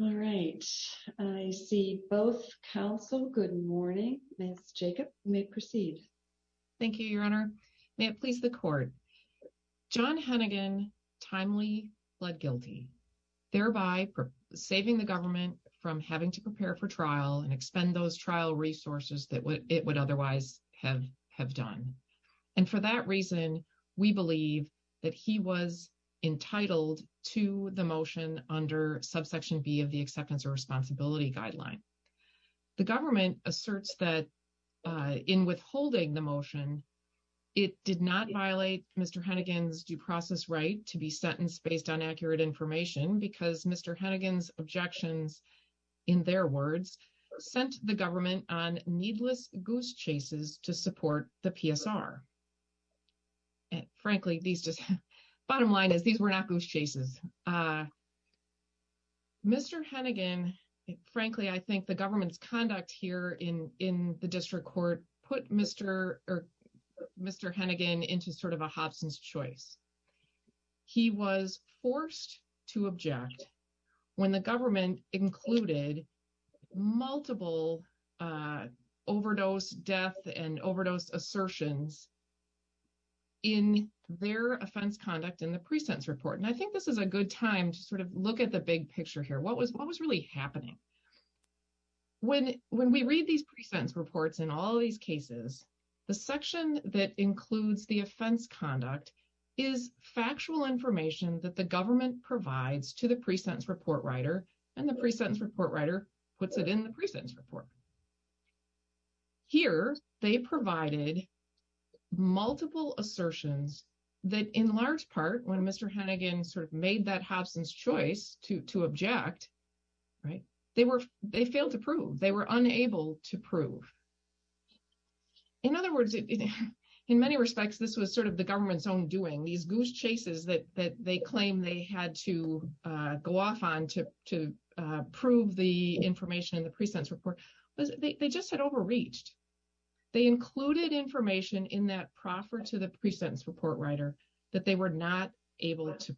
All right. I see both counsel. Good morning. Ms. Jacob, you may proceed. Thank you, Your Honor. May it please the court. John Henigan timely pled guilty, thereby saving the government from having to prepare for trial and expend those trial resources that it would otherwise have done. And for that reason, we believe that he was entitled to the motion under subsection B of the acceptance of responsibility guideline. The government asserts that in withholding the motion, it did not violate Mr. Henigan's due process right to be sentenced based on accurate information because Mr. Henigan's objections, in their words, sent the government on needless goose chases to support the PSR. And frankly, these just bottom line is these were not goose chases. Mr. Henigan, frankly, I think the government's conduct here in in the Mr. Mr. Henigan into sort of a Hobson's choice. He was forced to object when the government included multiple overdose death and overdose assertions in their offense conduct in the present report. And I think this is a good time to sort of look at the big picture here. What was really happening? When when we read these present reports in all these cases, the section that includes the offense conduct is factual information that the government provides to the present report writer and the present report writer puts it in the present report. Here, they provided multiple assertions that in large part, when Mr. Henigan sort of made that Hobson's choice to to object, right, they were they failed to prove they were unable to prove. In other words, in many respects, this was sort of the government's own doing these goose chases that that they claim they had to go off on to to prove the information in the present report. They just had overreached. They included information in that proffer to the present report writer that they were not able to.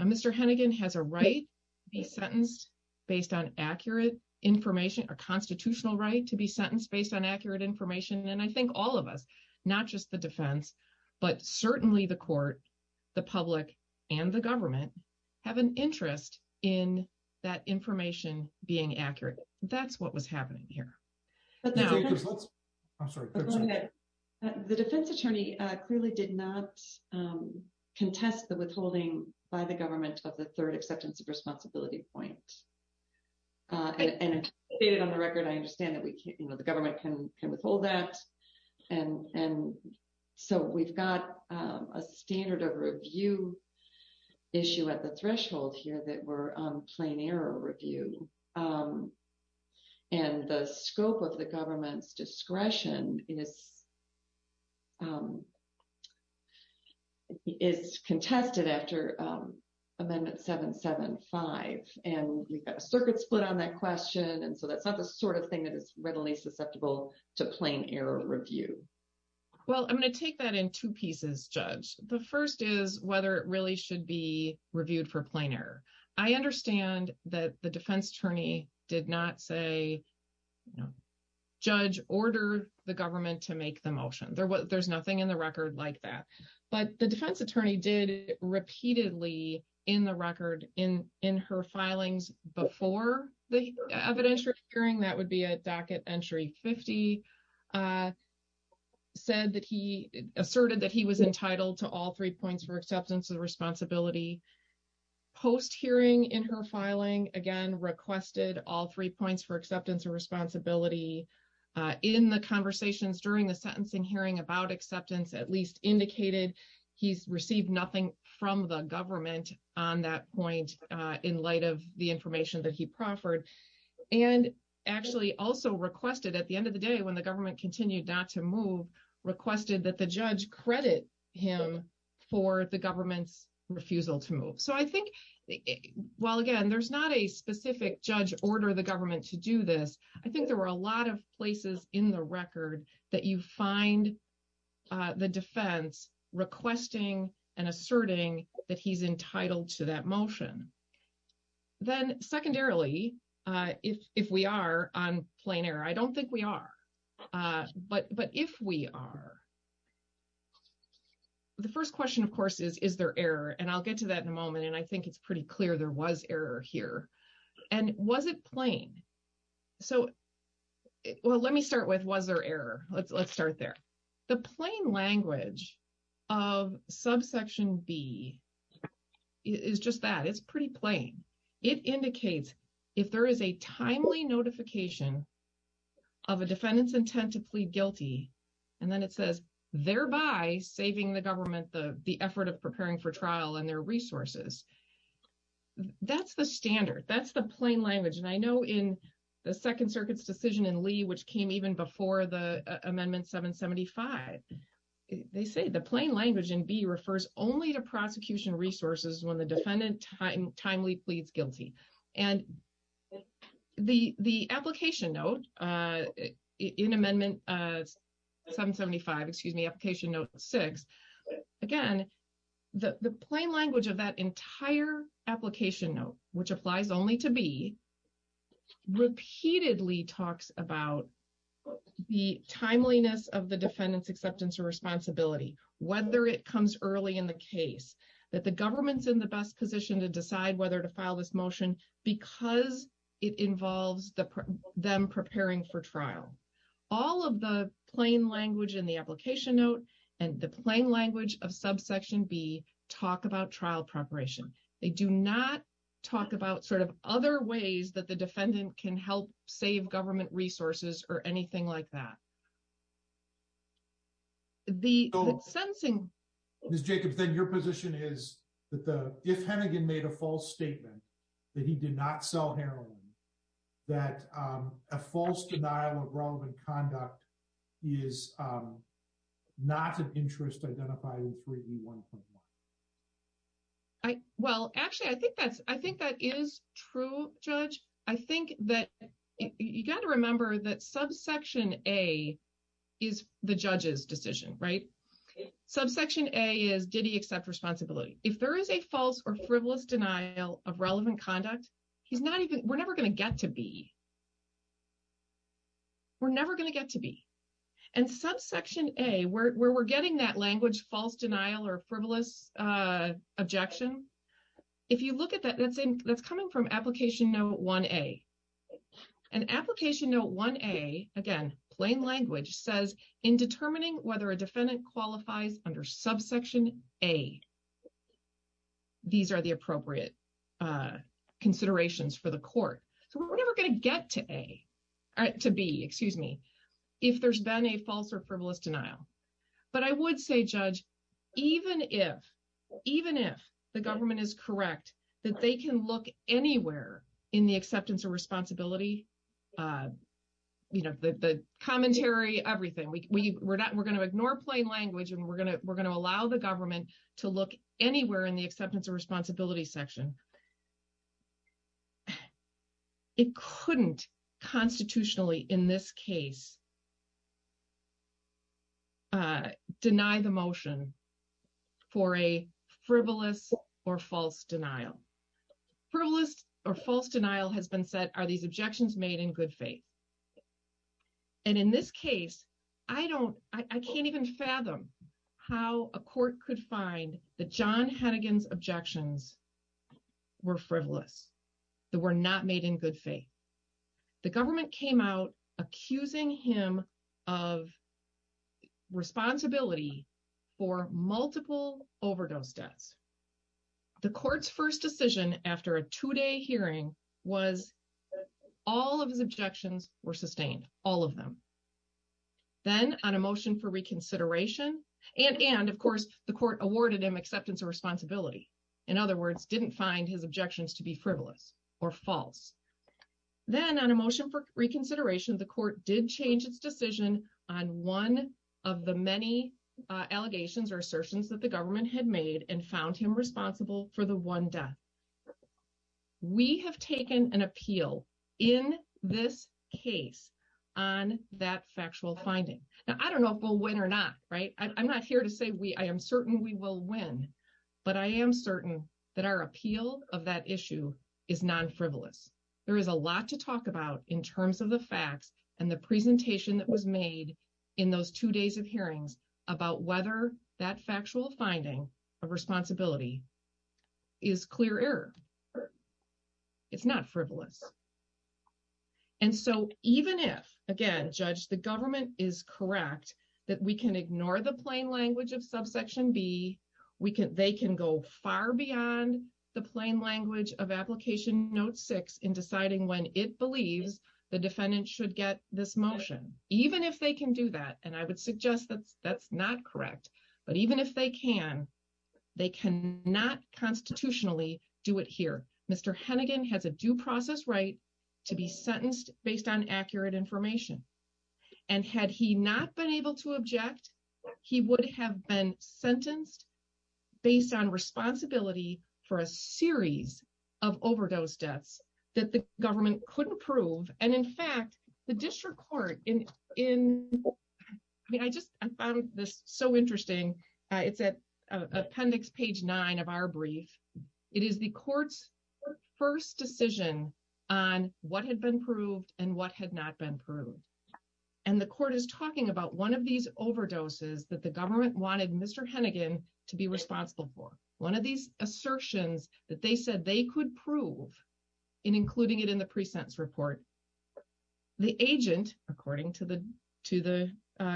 Mr. Henigan has a right to be sentenced based on accurate information, a constitutional right to be sentenced based on accurate information. And I think all of us, not just the defense, but certainly the court, the public and the government have an interest in that information being accurate. That's what was happening here. But the defense attorney clearly did not contest the withholding by the government of the third acceptance of responsibility point. And on the record, I understand that the government can withhold that. And so we've got a standard of review issue at the threshold here that were plain error review. And the scope of the government's discretion is is contested after Amendment 775. And we've got a circuit split on that question. And so that's not the sort of thing that is readily susceptible to plain error review. Well, I'm going to take that in two pieces, Judge. The first is whether it really should be that the defense attorney did not say, Judge, order the government to make the motion. There's nothing in the record like that. But the defense attorney did repeatedly in the record in her filings before the evidentiary hearing, that would be a docket entry 50, said that he asserted that he was entitled to all three points for acceptance of responsibility. Post hearing in her filing, again, requested all three points for acceptance of responsibility. In the conversations during the sentencing hearing about acceptance, at least indicated he's received nothing from the government on that point in light of the information that he proffered. And actually also requested at the end of the day, when the government continued not to move, requested that the judge credit him for the government's refusal to move. So I think, well, again, there's not a specific, Judge, order the government to do this. I think there were a lot of places in the record that you find the defense requesting and asserting that he's entitled to that motion. Then secondarily, if we are on plain error, I don't know if we are. The first question, of course, is, is there error? And I'll get to that in a moment. And I think it's pretty clear there was error here. And was it plain? So, well, let me start with, was there error? Let's start there. The plain language of subsection B is just that. It's pretty plain. It indicates if there is a timely notification of a defendant's intent to and then it says, thereby saving the government the effort of preparing for trial and their resources. That's the standard. That's the plain language. And I know in the Second Circuit's decision in Lee, which came even before the amendment 775, they say the plain language in B refers only to prosecution resources when the defendant timely pleads guilty. And the application note in amendment 775, excuse me, application note six, again, the plain language of that entire application note, which applies only to B, repeatedly talks about the timeliness of the defendant's acceptance or responsibility, whether it comes early in the case, that the government's in the best position to decide whether to file this motion because it involves them preparing for trial. All of the plain language in the application note and the plain language of subsection B talk about trial preparation. They do not talk about sort of other ways that the defendant can help save government resources or anything like that. The sentencing... If Hennigan made a false statement that he did not sell heroin, that a false denial of wrong conduct is not an interest identified in 3E1.1. Well, actually, I think that is true, Judge. I think that you got to remember that subsection A is the judge's decision, right? Subsection A is, did he accept responsibility? If there is a false or frivolous denial of relevant conduct, he's not even... We're never going to get to B. We're never going to get to B. And subsection A, where we're getting that language, false denial or frivolous objection, if you look at that, that's coming from application note 1A. And application note 1A, again, plain language, says in determining whether a defendant qualifies under subsection A, these are the appropriate considerations for the court. So we're never going to get to A, to B, excuse me, if there's been a false or frivolous denial. But I would say, Judge, even if, even if the government is correct that they can look anywhere in the acceptance of responsibility, the commentary, everything, we're going to ignore plain language and we're going to allow the government to look anywhere in the acceptance of responsibility section. It couldn't constitutionally in this case deny the motion for a frivolous or false denial has been said, are these objections made in good faith? And in this case, I don't, I can't even fathom how a court could find that John Hennigan's objections were frivolous, that were not made in good faith. The government came out accusing him of responsibility for multiple was all of his objections were sustained, all of them. Then on a motion for reconsideration, and of course, the court awarded him acceptance of responsibility. In other words, didn't find his objections to be frivolous or false. Then on a motion for reconsideration, the court did change its decision on one of the many allegations or assertions that the government had made and found him responsible for the one death. We have taken an appeal in this case on that factual finding. Now, I don't know if we'll win or not, right? I'm not here to say we, I am certain we will win, but I am certain that our appeal of that issue is non-frivolous. There is a lot to talk about in terms of the facts and the presentation that was made in those two days of hearings about whether that factual finding of responsibility is clear error. It's not frivolous. And so even if, again, Judge, the government is correct that we can ignore the plain language of subsection B, they can go far beyond the plain language of application note six in deciding when it believes the defendant should get this motion. Even if they can do that, and I would but even if they can, they cannot constitutionally do it here. Mr. Hennigan has a due process right to be sentenced based on accurate information. And had he not been able to object, he would have been sentenced based on responsibility for a series of overdose deaths that the government couldn't prove. And in fact, the district court in, I mean, I just, I found this so interesting. It's at appendix page nine of our brief. It is the court's first decision on what had been proved and what had not been proved. And the court is talking about one of these overdoses that the government wanted Mr. Hennigan to be responsible for. One of these assertions that they said they could prove in including it in the pre-sentence report. The agent, according to the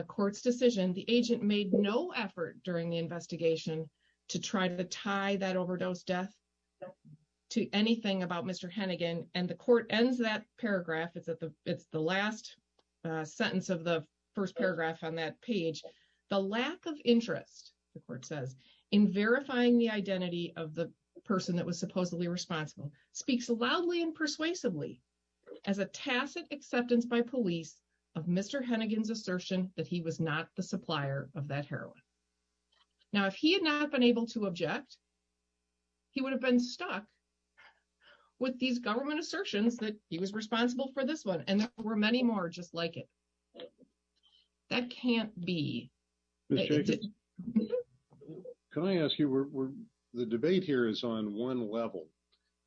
court's decision, the agent made no effort during the investigation to try to tie that overdose death to anything about Mr. Hennigan. And the court ends that paragraph. It's the last sentence of the first paragraph on that page. The lack of interest, the court says, in verifying the identity of the speaks loudly and persuasively as a tacit acceptance by police of Mr. Hennigan's assertion that he was not the supplier of that heroin. Now, if he had not been able to object, he would have been stuck with these government assertions that he was responsible for this one. And there were many more just like it. That can't be. Mr. Jacobs, can I ask you, the debate here is on one level,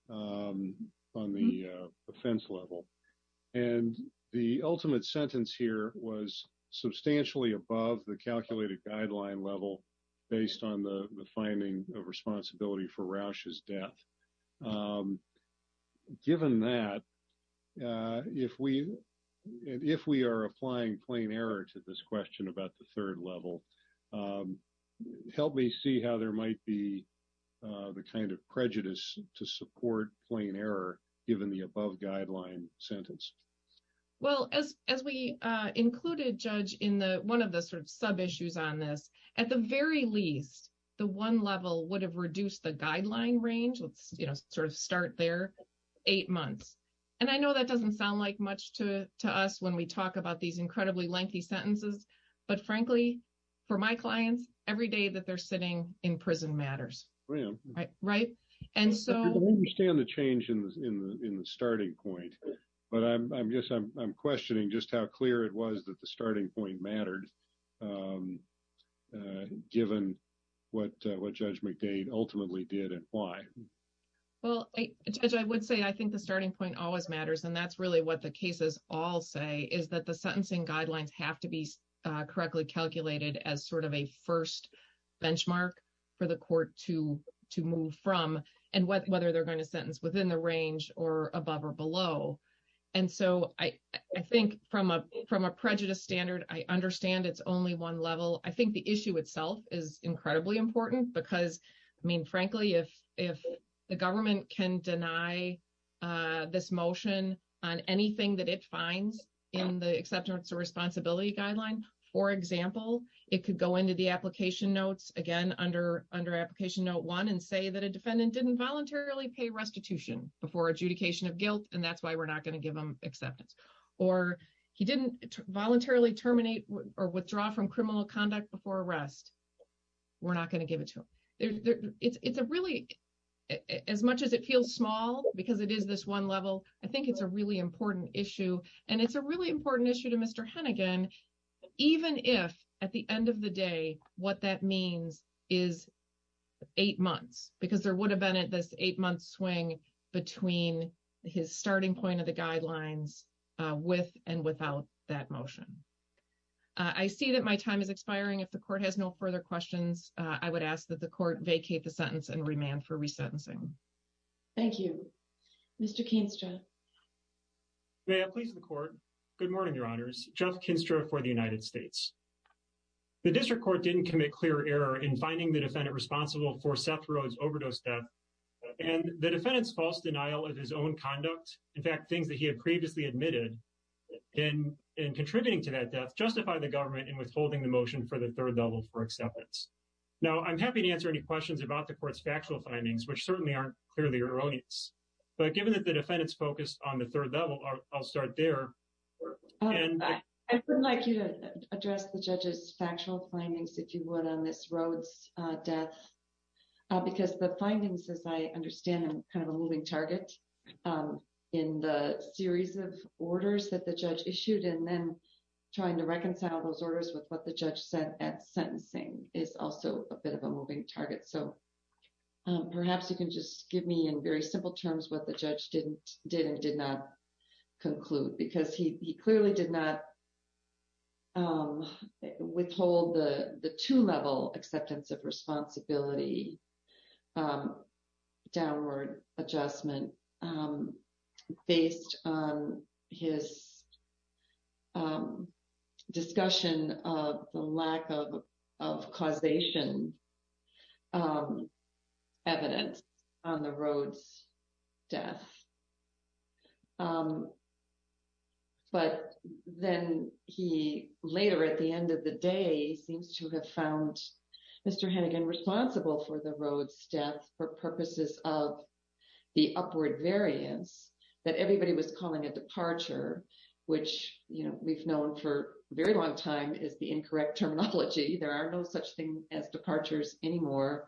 on the offense level, and the ultimate sentence here was substantially above the calculated guideline level based on the finding of responsibility for Rausch's death. Given that, if we are applying plain error to this question about the third level, help me see how there might be the kind of prejudice to support plain error given the above guideline sentence. Well, as we included, Judge, in one of the sort of sub-issues on this, at the very least, the one level would have reduced the guideline range, let's sort of start there, eight months. And I know that doesn't sound like much to us when we talk about these incredibly lengthy sentences, but frankly, for my clients, every day that they're sitting in prison matters. Right? And so... I understand the change in the starting point, but I'm questioning just how clear it was that the starting point mattered given what Judge McDade ultimately did and why. Well, Judge, I would say I think the starting point always matters, and that's really what the cases all say, is that the sentencing guidelines have to be correctly calculated as sort of a first benchmark for the court to move from and whether they're going to sentence within the range or above or below. And so, I think from a prejudice standard, I understand it's only one level. I think the issue itself is incredibly important because, I mean, frankly, if the government can deny this motion on anything that it finds in the acceptance of responsibility guideline, for example, it could go into the application notes, again, under application note one and say that a defendant didn't voluntarily pay restitution before adjudication of guilt, and that's why we're not going to give him acceptance. Or he didn't voluntarily terminate or withdraw from criminal conduct before arrest, we're not going to give it to him. It's a really, as much as it feels small because it is this one level, I think it's a really important issue, and it's a really important issue to Mr. Hennigan, even if at the end of the day what that means is eight months, because there would have been at this eight-month swing between his starting point of the guidelines with and without that motion. I see that my time is expiring. If the court has no further questions, I would ask that the court vacate the sentence and remand for resentencing. Thank you. Mr. Kinstra. May I please the court? Good morning, Your Honors. Jeff Kinstra for the United States. The district court didn't commit clear error in finding the defendant responsible for Seth Rode's overdose death and the defendant's false denial of his own conduct, in fact, things that he had previously admitted in contributing to that death justify the government in withholding the motion for the third level for acceptance. Now, I'm happy to answer any questions about the court's factual findings, which certainly aren't clearly erroneous, but given that the defendant's focused on the third level, I'll start there. I would like you to address the judge's factual findings, if you would, on this Rode's death, because the findings, as I understand them, kind of a moving target in the series of orders that the judge issued and then trying to reconcile those orders with what the judge said at sentencing is also a bit of a moving target. So perhaps you can just give me in very simple terms what the judge did and did not conclude, because he clearly did not withhold the two-level acceptance of responsibility downward adjustment based on his discussion of the lack of causation evidence on the Rode's death. But then he later, at the end of the day, seems to have found Mr. Hannigan responsible for the Rode's death for purposes of the upward variance that everybody was calling a departure, which, you know, we've known for a very long time is the incorrect terminology. There are no such as departures anymore.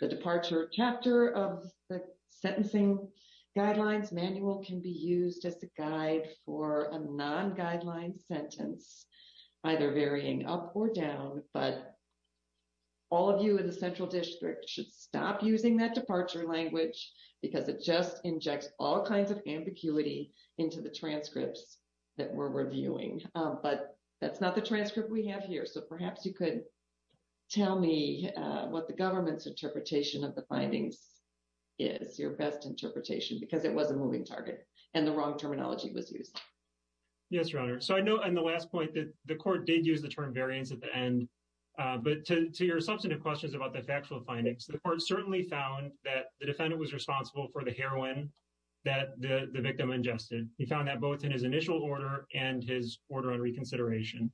The departure chapter of the sentencing guidelines manual can be used as a guide for a non-guideline sentence, either varying up or down, but all of you in the Central District should stop using that departure language, because it just injects all kinds of ambiguity into the transcripts that we're reviewing. But that's not the transcript we have here. So perhaps you could tell me what the government's interpretation of the findings is, your best interpretation, because it was a moving target and the wrong terminology was used. Yes, Your Honor. So I know in the last point that the court did use the term variance at the end, but to your substantive questions about the factual findings, the court certainly found that the defendant was responsible for the heroin that the victim ingested. He found that both in his initial order and his order on reconsideration.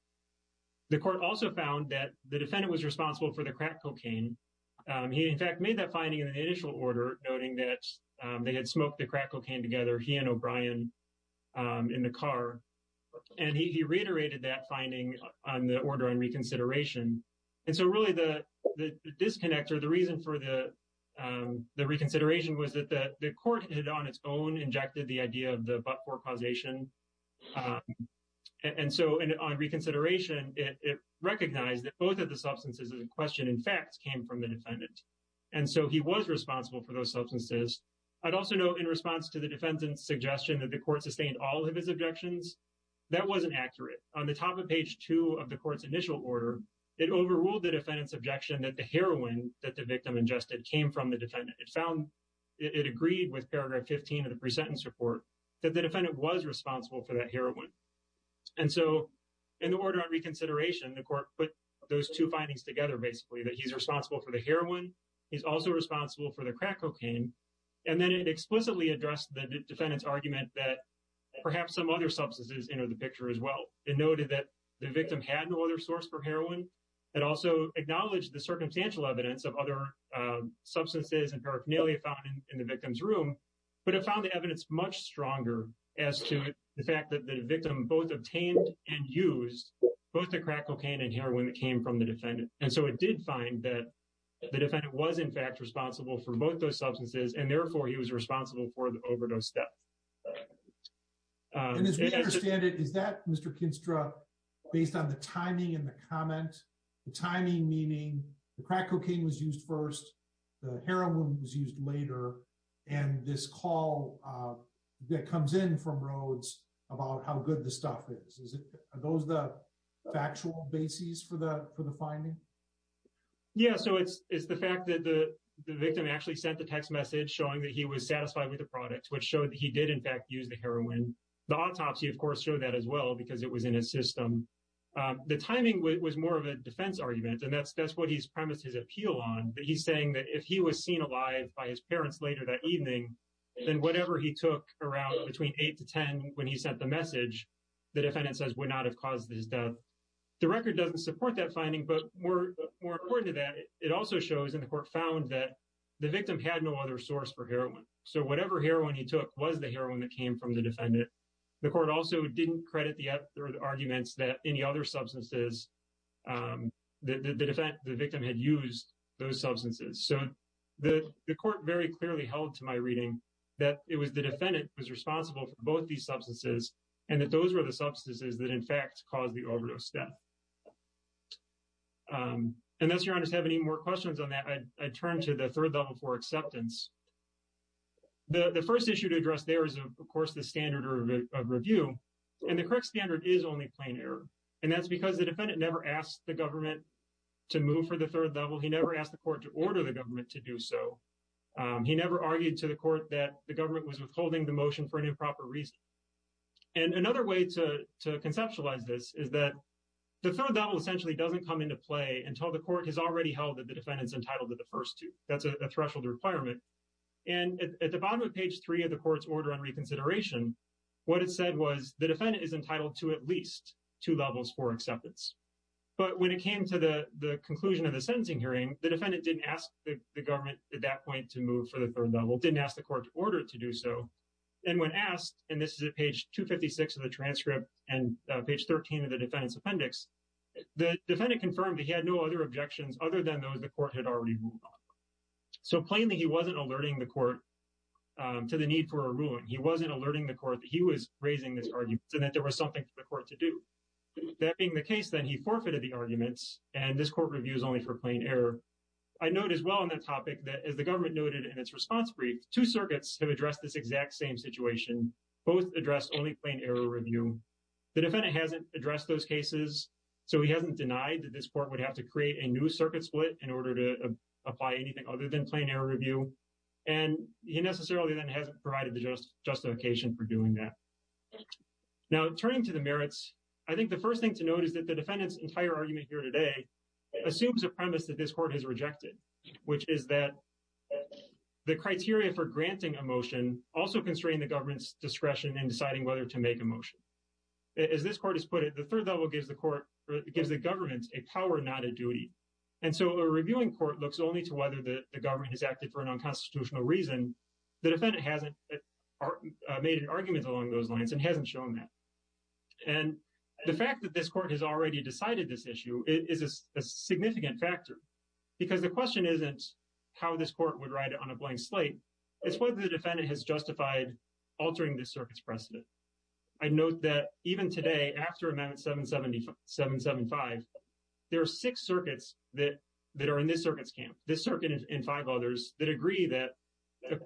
The court also found that the defendant was responsible for the crack cocaine. He, in fact, made that finding in the initial order, noting that they had smoked the crack cocaine together, he and O'Brien, in the car. And he reiterated that finding on the order on reconsideration. And so really the disconnect or the reason for the reconsideration was that the court had on its own injected the idea of the but-for causation and so on reconsideration, it recognized that both of the substances in question, in fact, came from the defendant. And so he was responsible for those substances. I'd also note in response to the defendant's suggestion that the court sustained all of his objections, that wasn't accurate. On the top of page two of the court's initial order, it overruled the defendant's objection that the heroin that the victim ingested came from the defendant. It agreed with paragraph 15 of the pre-sentence report that the defendant was responsible for that heroin. And so in the order on reconsideration, the court put those two findings together, basically, that he's responsible for the heroin, he's also responsible for the crack cocaine. And then it explicitly addressed the defendant's argument that perhaps some other substances enter the picture as well. It noted that the victim had no other source for heroin and also acknowledged the circumstantial evidence of other substances and paraphernalia found in the victim's room, but it found the evidence much stronger as to the fact that the victim both obtained and used both the crack cocaine and heroin that came from the defendant. And so it did find that the defendant was in fact responsible for both those substances and therefore he was responsible for the overdose theft. And as we understand it, is that, Mr. Kinstra, based on the timing in the comment, the timing meaning the crack cocaine was used first, the heroin was used later, and this call that comes in from Rhodes about how good the stuff is, is it, are those the factual bases for the finding? Yeah, so it's the fact that the victim actually sent the text message showing that he was satisfied with the product, which showed that he did in fact use the heroin. The autopsy, of course, showed that as well because it was in his system. The timing was more of a defense argument and that's what he's premised his appeal on, he's saying that if he was seen alive by his parents later that evening, then whatever he took around between 8 to 10 when he sent the message, the defendant says would not have caused his death. The record doesn't support that finding, but more important to that, it also shows and the court found that the victim had no other source for heroin. So whatever heroin he took was the heroin that came from the defendant. The court also didn't credit the arguments that any other So the court very clearly held to my reading that it was the defendant who was responsible for both these substances and that those were the substances that in fact caused the overdose death. Unless your honors have any more questions on that, I turn to the third level for acceptance. The first issue to address there is, of course, the standard of review, and the correct standard is only plain error, and that's because the defendant never asked the government to move for the third level. He never asked the court to order the government to do so. He never argued to the court that the government was withholding the motion for an improper reason, and another way to to conceptualize this is that the third level essentially doesn't come into play until the court has already held that the defendant's entitled to the first two. That's a threshold requirement, and at the bottom of page three of the court's order on reconsideration, what it said was the defendant is entitled to at least two levels for acceptance, but when it came to the conclusion of the sentencing hearing, the defendant didn't ask the government at that point to move for the third level, didn't ask the court to order it to do so, and when asked, and this is at page 256 of the transcript and page 13 of the defendant's appendix, the defendant confirmed that he had no other objections other than those the court had already moved on. So plainly, he wasn't alerting the court to the need for a ruling. He wasn't alerting the court that he was raising this argument and that there was something for it to do. That being the case, then he forfeited the arguments, and this court reviews only for plain error. I note as well on that topic that as the government noted in its response brief, two circuits have addressed this exact same situation. Both addressed only plain error review. The defendant hasn't addressed those cases, so he hasn't denied that this court would have to create a new circuit split in order to apply anything other than plain error review, and he necessarily then hasn't provided the justification for doing that. Now, turning to the merits, I think the first thing to note is that the defendant's entire argument here today assumes a premise that this court has rejected, which is that the criteria for granting a motion also constrain the government's discretion in deciding whether to make a motion. As this court has put it, the third level gives the government a power, not a duty, and so a reviewing court looks only to whether the government has acted for an unconstitutional reason. The defendant hasn't made an argument along those lines and hasn't shown that, and the fact that this court has already decided this issue is a significant factor because the question isn't how this court would write it on a blank slate. It's whether the defendant has justified altering this circuit's precedent. I note that even today after Amendment 775, there are six circuits that are in this circuit's camp. This circuit and five others that agree that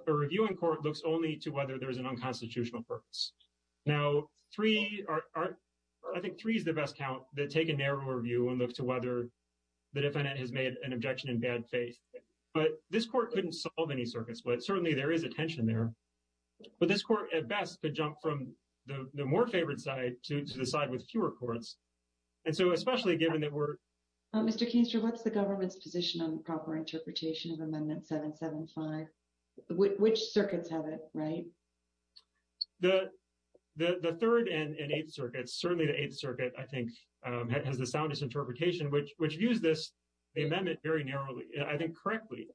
a reviewing court looks only to whether there's an unconstitutional purpose. Now, I think three is the best count that take a narrower view and look to whether the defendant has made an objection in bad faith, but this court couldn't solve any circuits, but certainly there is a tension there, but this court at best could jump from the more favored side to the side with fewer courts, and so especially given that we're... Mr. Keenster, what's the government's position on proper interpretation of Amendment 775? Which circuits have it, right? The third and eighth circuits, certainly the eighth circuit, I think has the soundest interpretation, which views this amendment very narrowly. I think correctly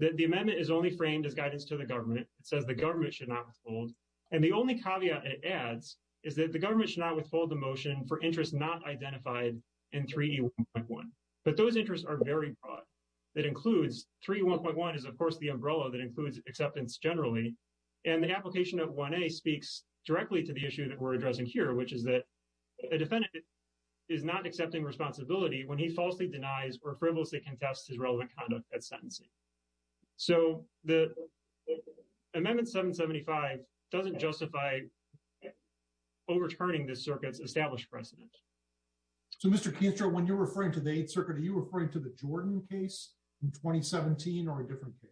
that the amendment is only framed as guidance to the government. It says the government should not withhold, and the only caveat it adds is that the government should not withhold the motion for interests not identified in 3E1.1, but those interests are very broad. That includes 3E1.1 is, of course, the umbrella that includes acceptance generally, and the application of 1A speaks directly to the issue that we're addressing here, which is that a defendant is not accepting responsibility when he falsely denies or frivolously contests his relevant conduct at sentencing, so the Amendment 775 doesn't justify overturning this circuit's established precedent. So, Mr. Keenster, when you're referring to the eighth circuit, are you referring to the Jordan case in 2017 or a different case?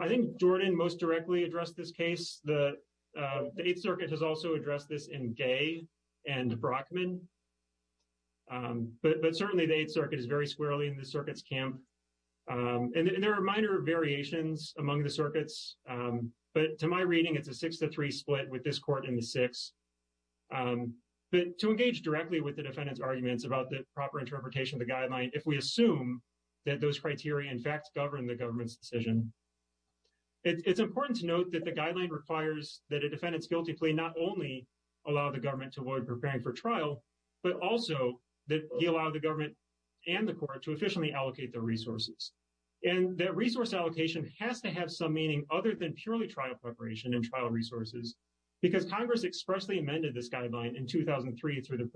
I think Jordan most directly addressed this case. The eighth circuit has also addressed this in Gay and Brockman, but certainly the eighth circuit is very squarely in the circuit's camp, and there are minor variations among the circuits, but to my reading, it's a 6-3 split with this about the proper interpretation of the guideline if we assume that those criteria, in fact, govern the government's decision. It's important to note that the guideline requires that a defendant's guilty plea not only allow the government to avoid preparing for trial, but also that he allow the government and the court to efficiently allocate their resources, and that resource allocation has to have some meaning other than purely trial preparation and trial resources because Congress expressly amended this guideline in 2003 through the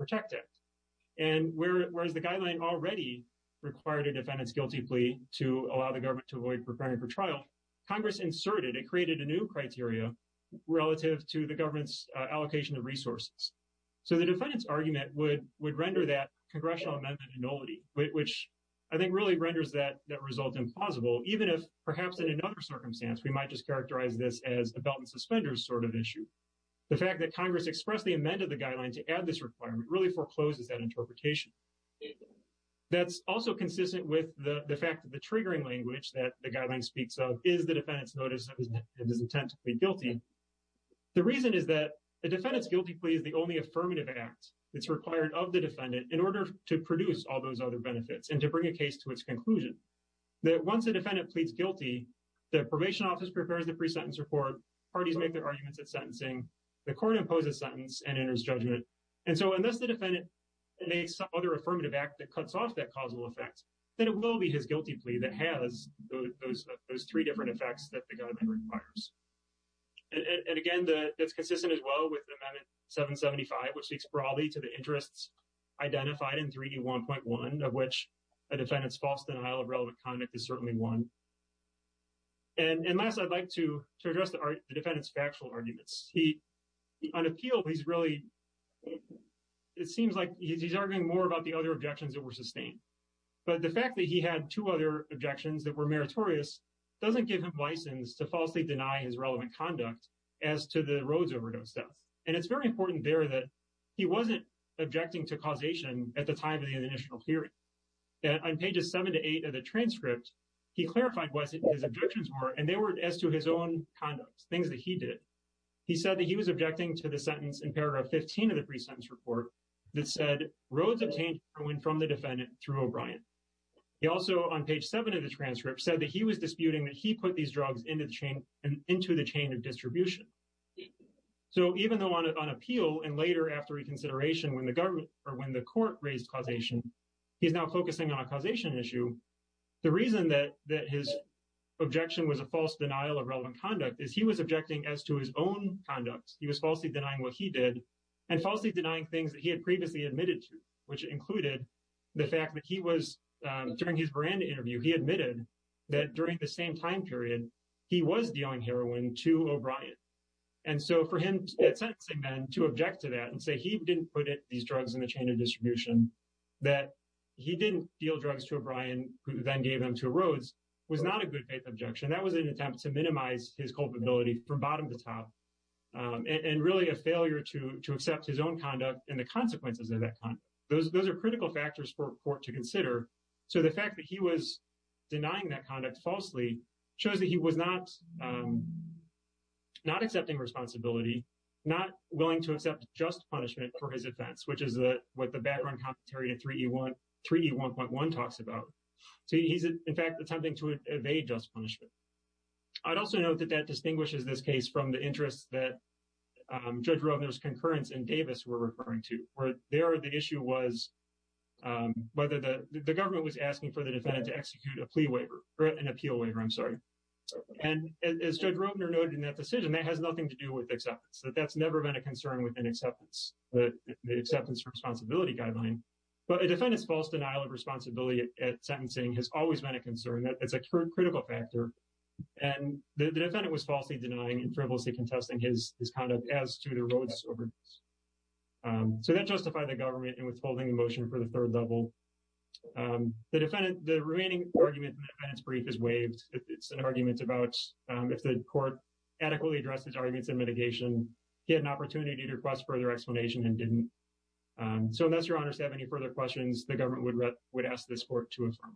and whereas the guideline already required a defendant's guilty plea to allow the government to avoid preparing for trial, Congress inserted and created a new criteria relative to the government's allocation of resources. So, the defendant's argument would render that congressional amendment nullity, which I think really renders that result implausible, even if perhaps in another circumstance, we might just characterize this as a belt and suspenders sort of issue. The fact that Congress expressly amended the guideline to add this requirement really forecloses that interpretation. That's also consistent with the fact that the triggering language that the guideline speaks of is the defendant's notice of his intent to plead guilty. The reason is that the defendant's guilty plea is the only affirmative act that's required of the defendant in order to produce all those other benefits and to bring a case to its conclusion, that once a defendant pleads guilty, the probation office prepares the pre-sentence report, parties make their arguments at sentencing, the court imposes sentence and enters judgment, and so unless the defendant makes some other affirmative act that cuts off that causal effect, then it will be his guilty plea that has those three different effects that the guideline requires. And again, that's consistent as well with Amendment 775, which speaks broadly to the interests identified in 3D1.1, of which a defendant's false denial of relevant conduct is certainly one. And last, I'd like to address the defendant's factual arguments. He, on appeal, he's really, it seems like he's arguing more about the other objections that were sustained. But the fact that he had two other objections that were meritorious doesn't give him license to falsely deny his relevant conduct as to the Rhodes overdose death. And it's very important there that he wasn't objecting to causation at the time of the initial hearing. On pages seven to eight of the transcript, he clarified what his objections were, and they were as to his own conduct, things that he did. He said that he was objecting to the sentence in paragraph 15 of the pre-sentence report that said Rhodes obtained heroin from the defendant through O'Brien. He also, on page seven of the transcript, said that he was disputing that he put these drugs into the chain of distribution. So even though on appeal and later after reconsideration when the government or when the court raised causation, he's now false denial of relevant conduct is he was objecting as to his own conduct. He was falsely denying what he did and falsely denying things that he had previously admitted to, which included the fact that he was, during his brand interview, he admitted that during the same time period, he was dealing heroin to O'Brien. And so for him at sentencing then to object to that and say he didn't put these drugs in the chain of distribution, that he didn't deal drugs to O'Brien, who then gave them to Rhodes, was not a good faith objection. That was an attempt to minimize his culpability from bottom to top and really a failure to accept his own conduct and the consequences of that. Those are critical factors for court to consider. So the fact that he was denying that conduct falsely shows that he was not accepting responsibility, not willing to accept just punishment for his offense, which is what the background commentary in 3E1.1 talks about. He's, in fact, attempting to evade just punishment. I'd also note that that distinguishes this case from the interests that Judge Robner's concurrence in Davis were referring to, where there the issue was whether the government was asking for the defendant to execute a plea waiver or an appeal waiver, I'm sorry. And as Judge Robner noted in that decision, that has nothing to do with acceptance, that that's never been a concern within acceptance, the acceptance responsibility guideline. But a defendant's false denial of responsibility at sentencing has always been a concern. That's a critical factor. And the defendant was falsely denying and frivolously contesting his conduct as to Rhodes. So that justified the government and was holding the motion for the third level. The defendant, the remaining argument in the defendant's brief is waived. It's an argument about if the court adequately addressed his arguments in mitigation, he had an opportunity to request further explanation and didn't. So unless your honors have any further questions, the government would ask this court to affirm.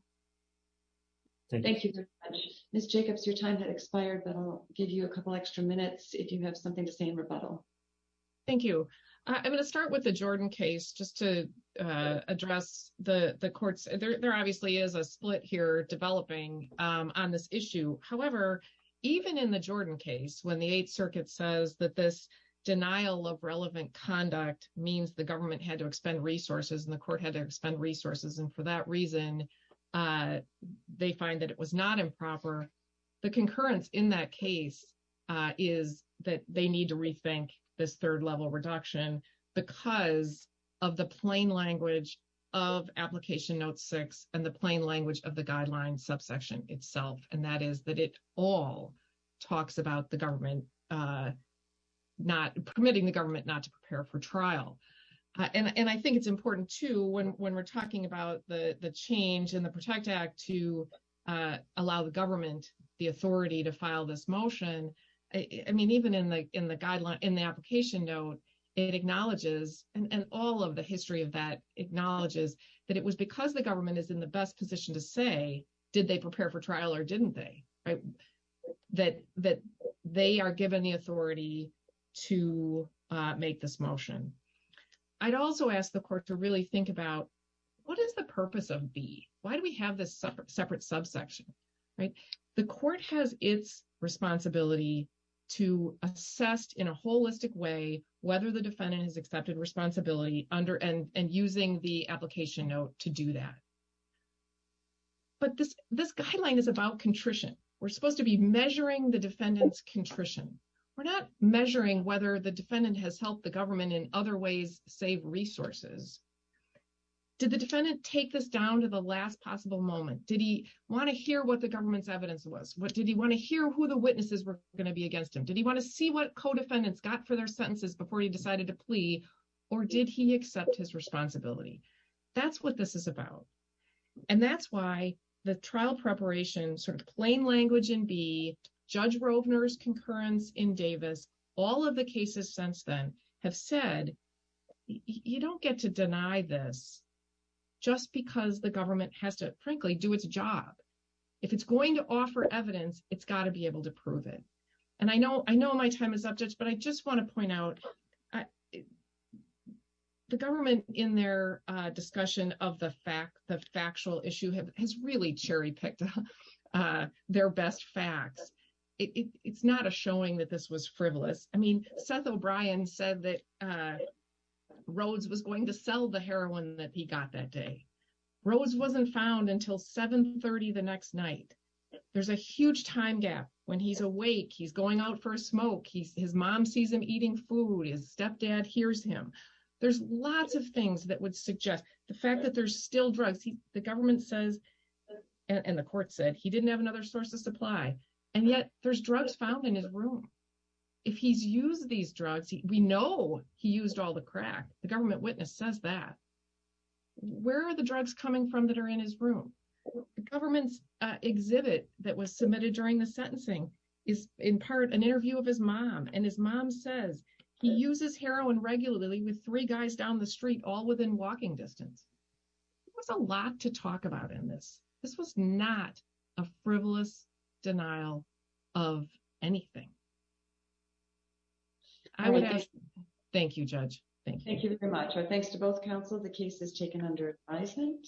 Thank you very much. Ms. Jacobs, your time had expired, but I'll give you a couple extra minutes if you have something to say in rebuttal. Thank you. I'm going to start with the Jordan case just to address the courts. There obviously is a split here developing on this issue. However, even in the Jordan case, when the Eighth Circuit says that this denial of relevant conduct means the government had to expend resources and the court had to expend resources. And for that reason, they find that it was not improper. The concurrence in that case is that they need to rethink this third level reduction because of the plain language of application note six and the plain law talks about the government not permitting the government not to prepare for trial. And I think it's important too when we're talking about the change in the Protect Act to allow the government the authority to file this motion. I mean, even in the application note, it acknowledges and all of the history of that acknowledges that it was because the government is in the best position to say, did they prepare for trial or didn't they? That they are given the authority to make this motion. I'd also ask the court to really think about what is the purpose of B? Why do we have this separate subsection? The court has its responsibility to assess in a holistic way whether the defendant has accepted responsibility under and using the application note to do that. But this guideline is about contrition. We're supposed to be measuring the defendant's contrition. We're not measuring whether the defendant has helped the government in other ways save resources. Did the defendant take this down to the last possible moment? Did he want to hear what the government's evidence was? Did he want to hear who the witnesses were going to be against him? Did he want to see what co-defendants got for their sentences before he accepted his responsibility? That's what this is about. And that's why the trial preparation, sort of plain language in B, Judge Rovner's concurrence in Davis, all of the cases since then have said, you don't get to deny this just because the government has to frankly do its job. If it's going to offer evidence, it's got to be able to prove it. And I know my time is up, but I just want to point out the government in their discussion of the factual issue has really cherry-picked their best facts. It's not a showing that this was frivolous. I mean, Seth O'Brien said that Rhodes was going to sell the heroin that he got that day. Rhodes wasn't found until 7 30 the next night. There's a huge time gap. When he's awake, he's sees him eating food. His stepdad hears him. There's lots of things that would suggest the fact that there's still drugs. The government says, and the court said he didn't have another source of supply and yet there's drugs found in his room. If he's used these drugs, we know he used all the crack. The government witness says that. Where are the drugs coming from that are in his room? The government's exhibit that was submitted during the sentencing is in part an evidence that he was using heroin. He was using heroin regularly with three guys down the street all within walking distance. There was a lot to talk about in this. This was not a frivolous denial of anything. Thank you, Judge. Thank you. Thank you very much. Our thanks to both counsel. The case is taken under advisement.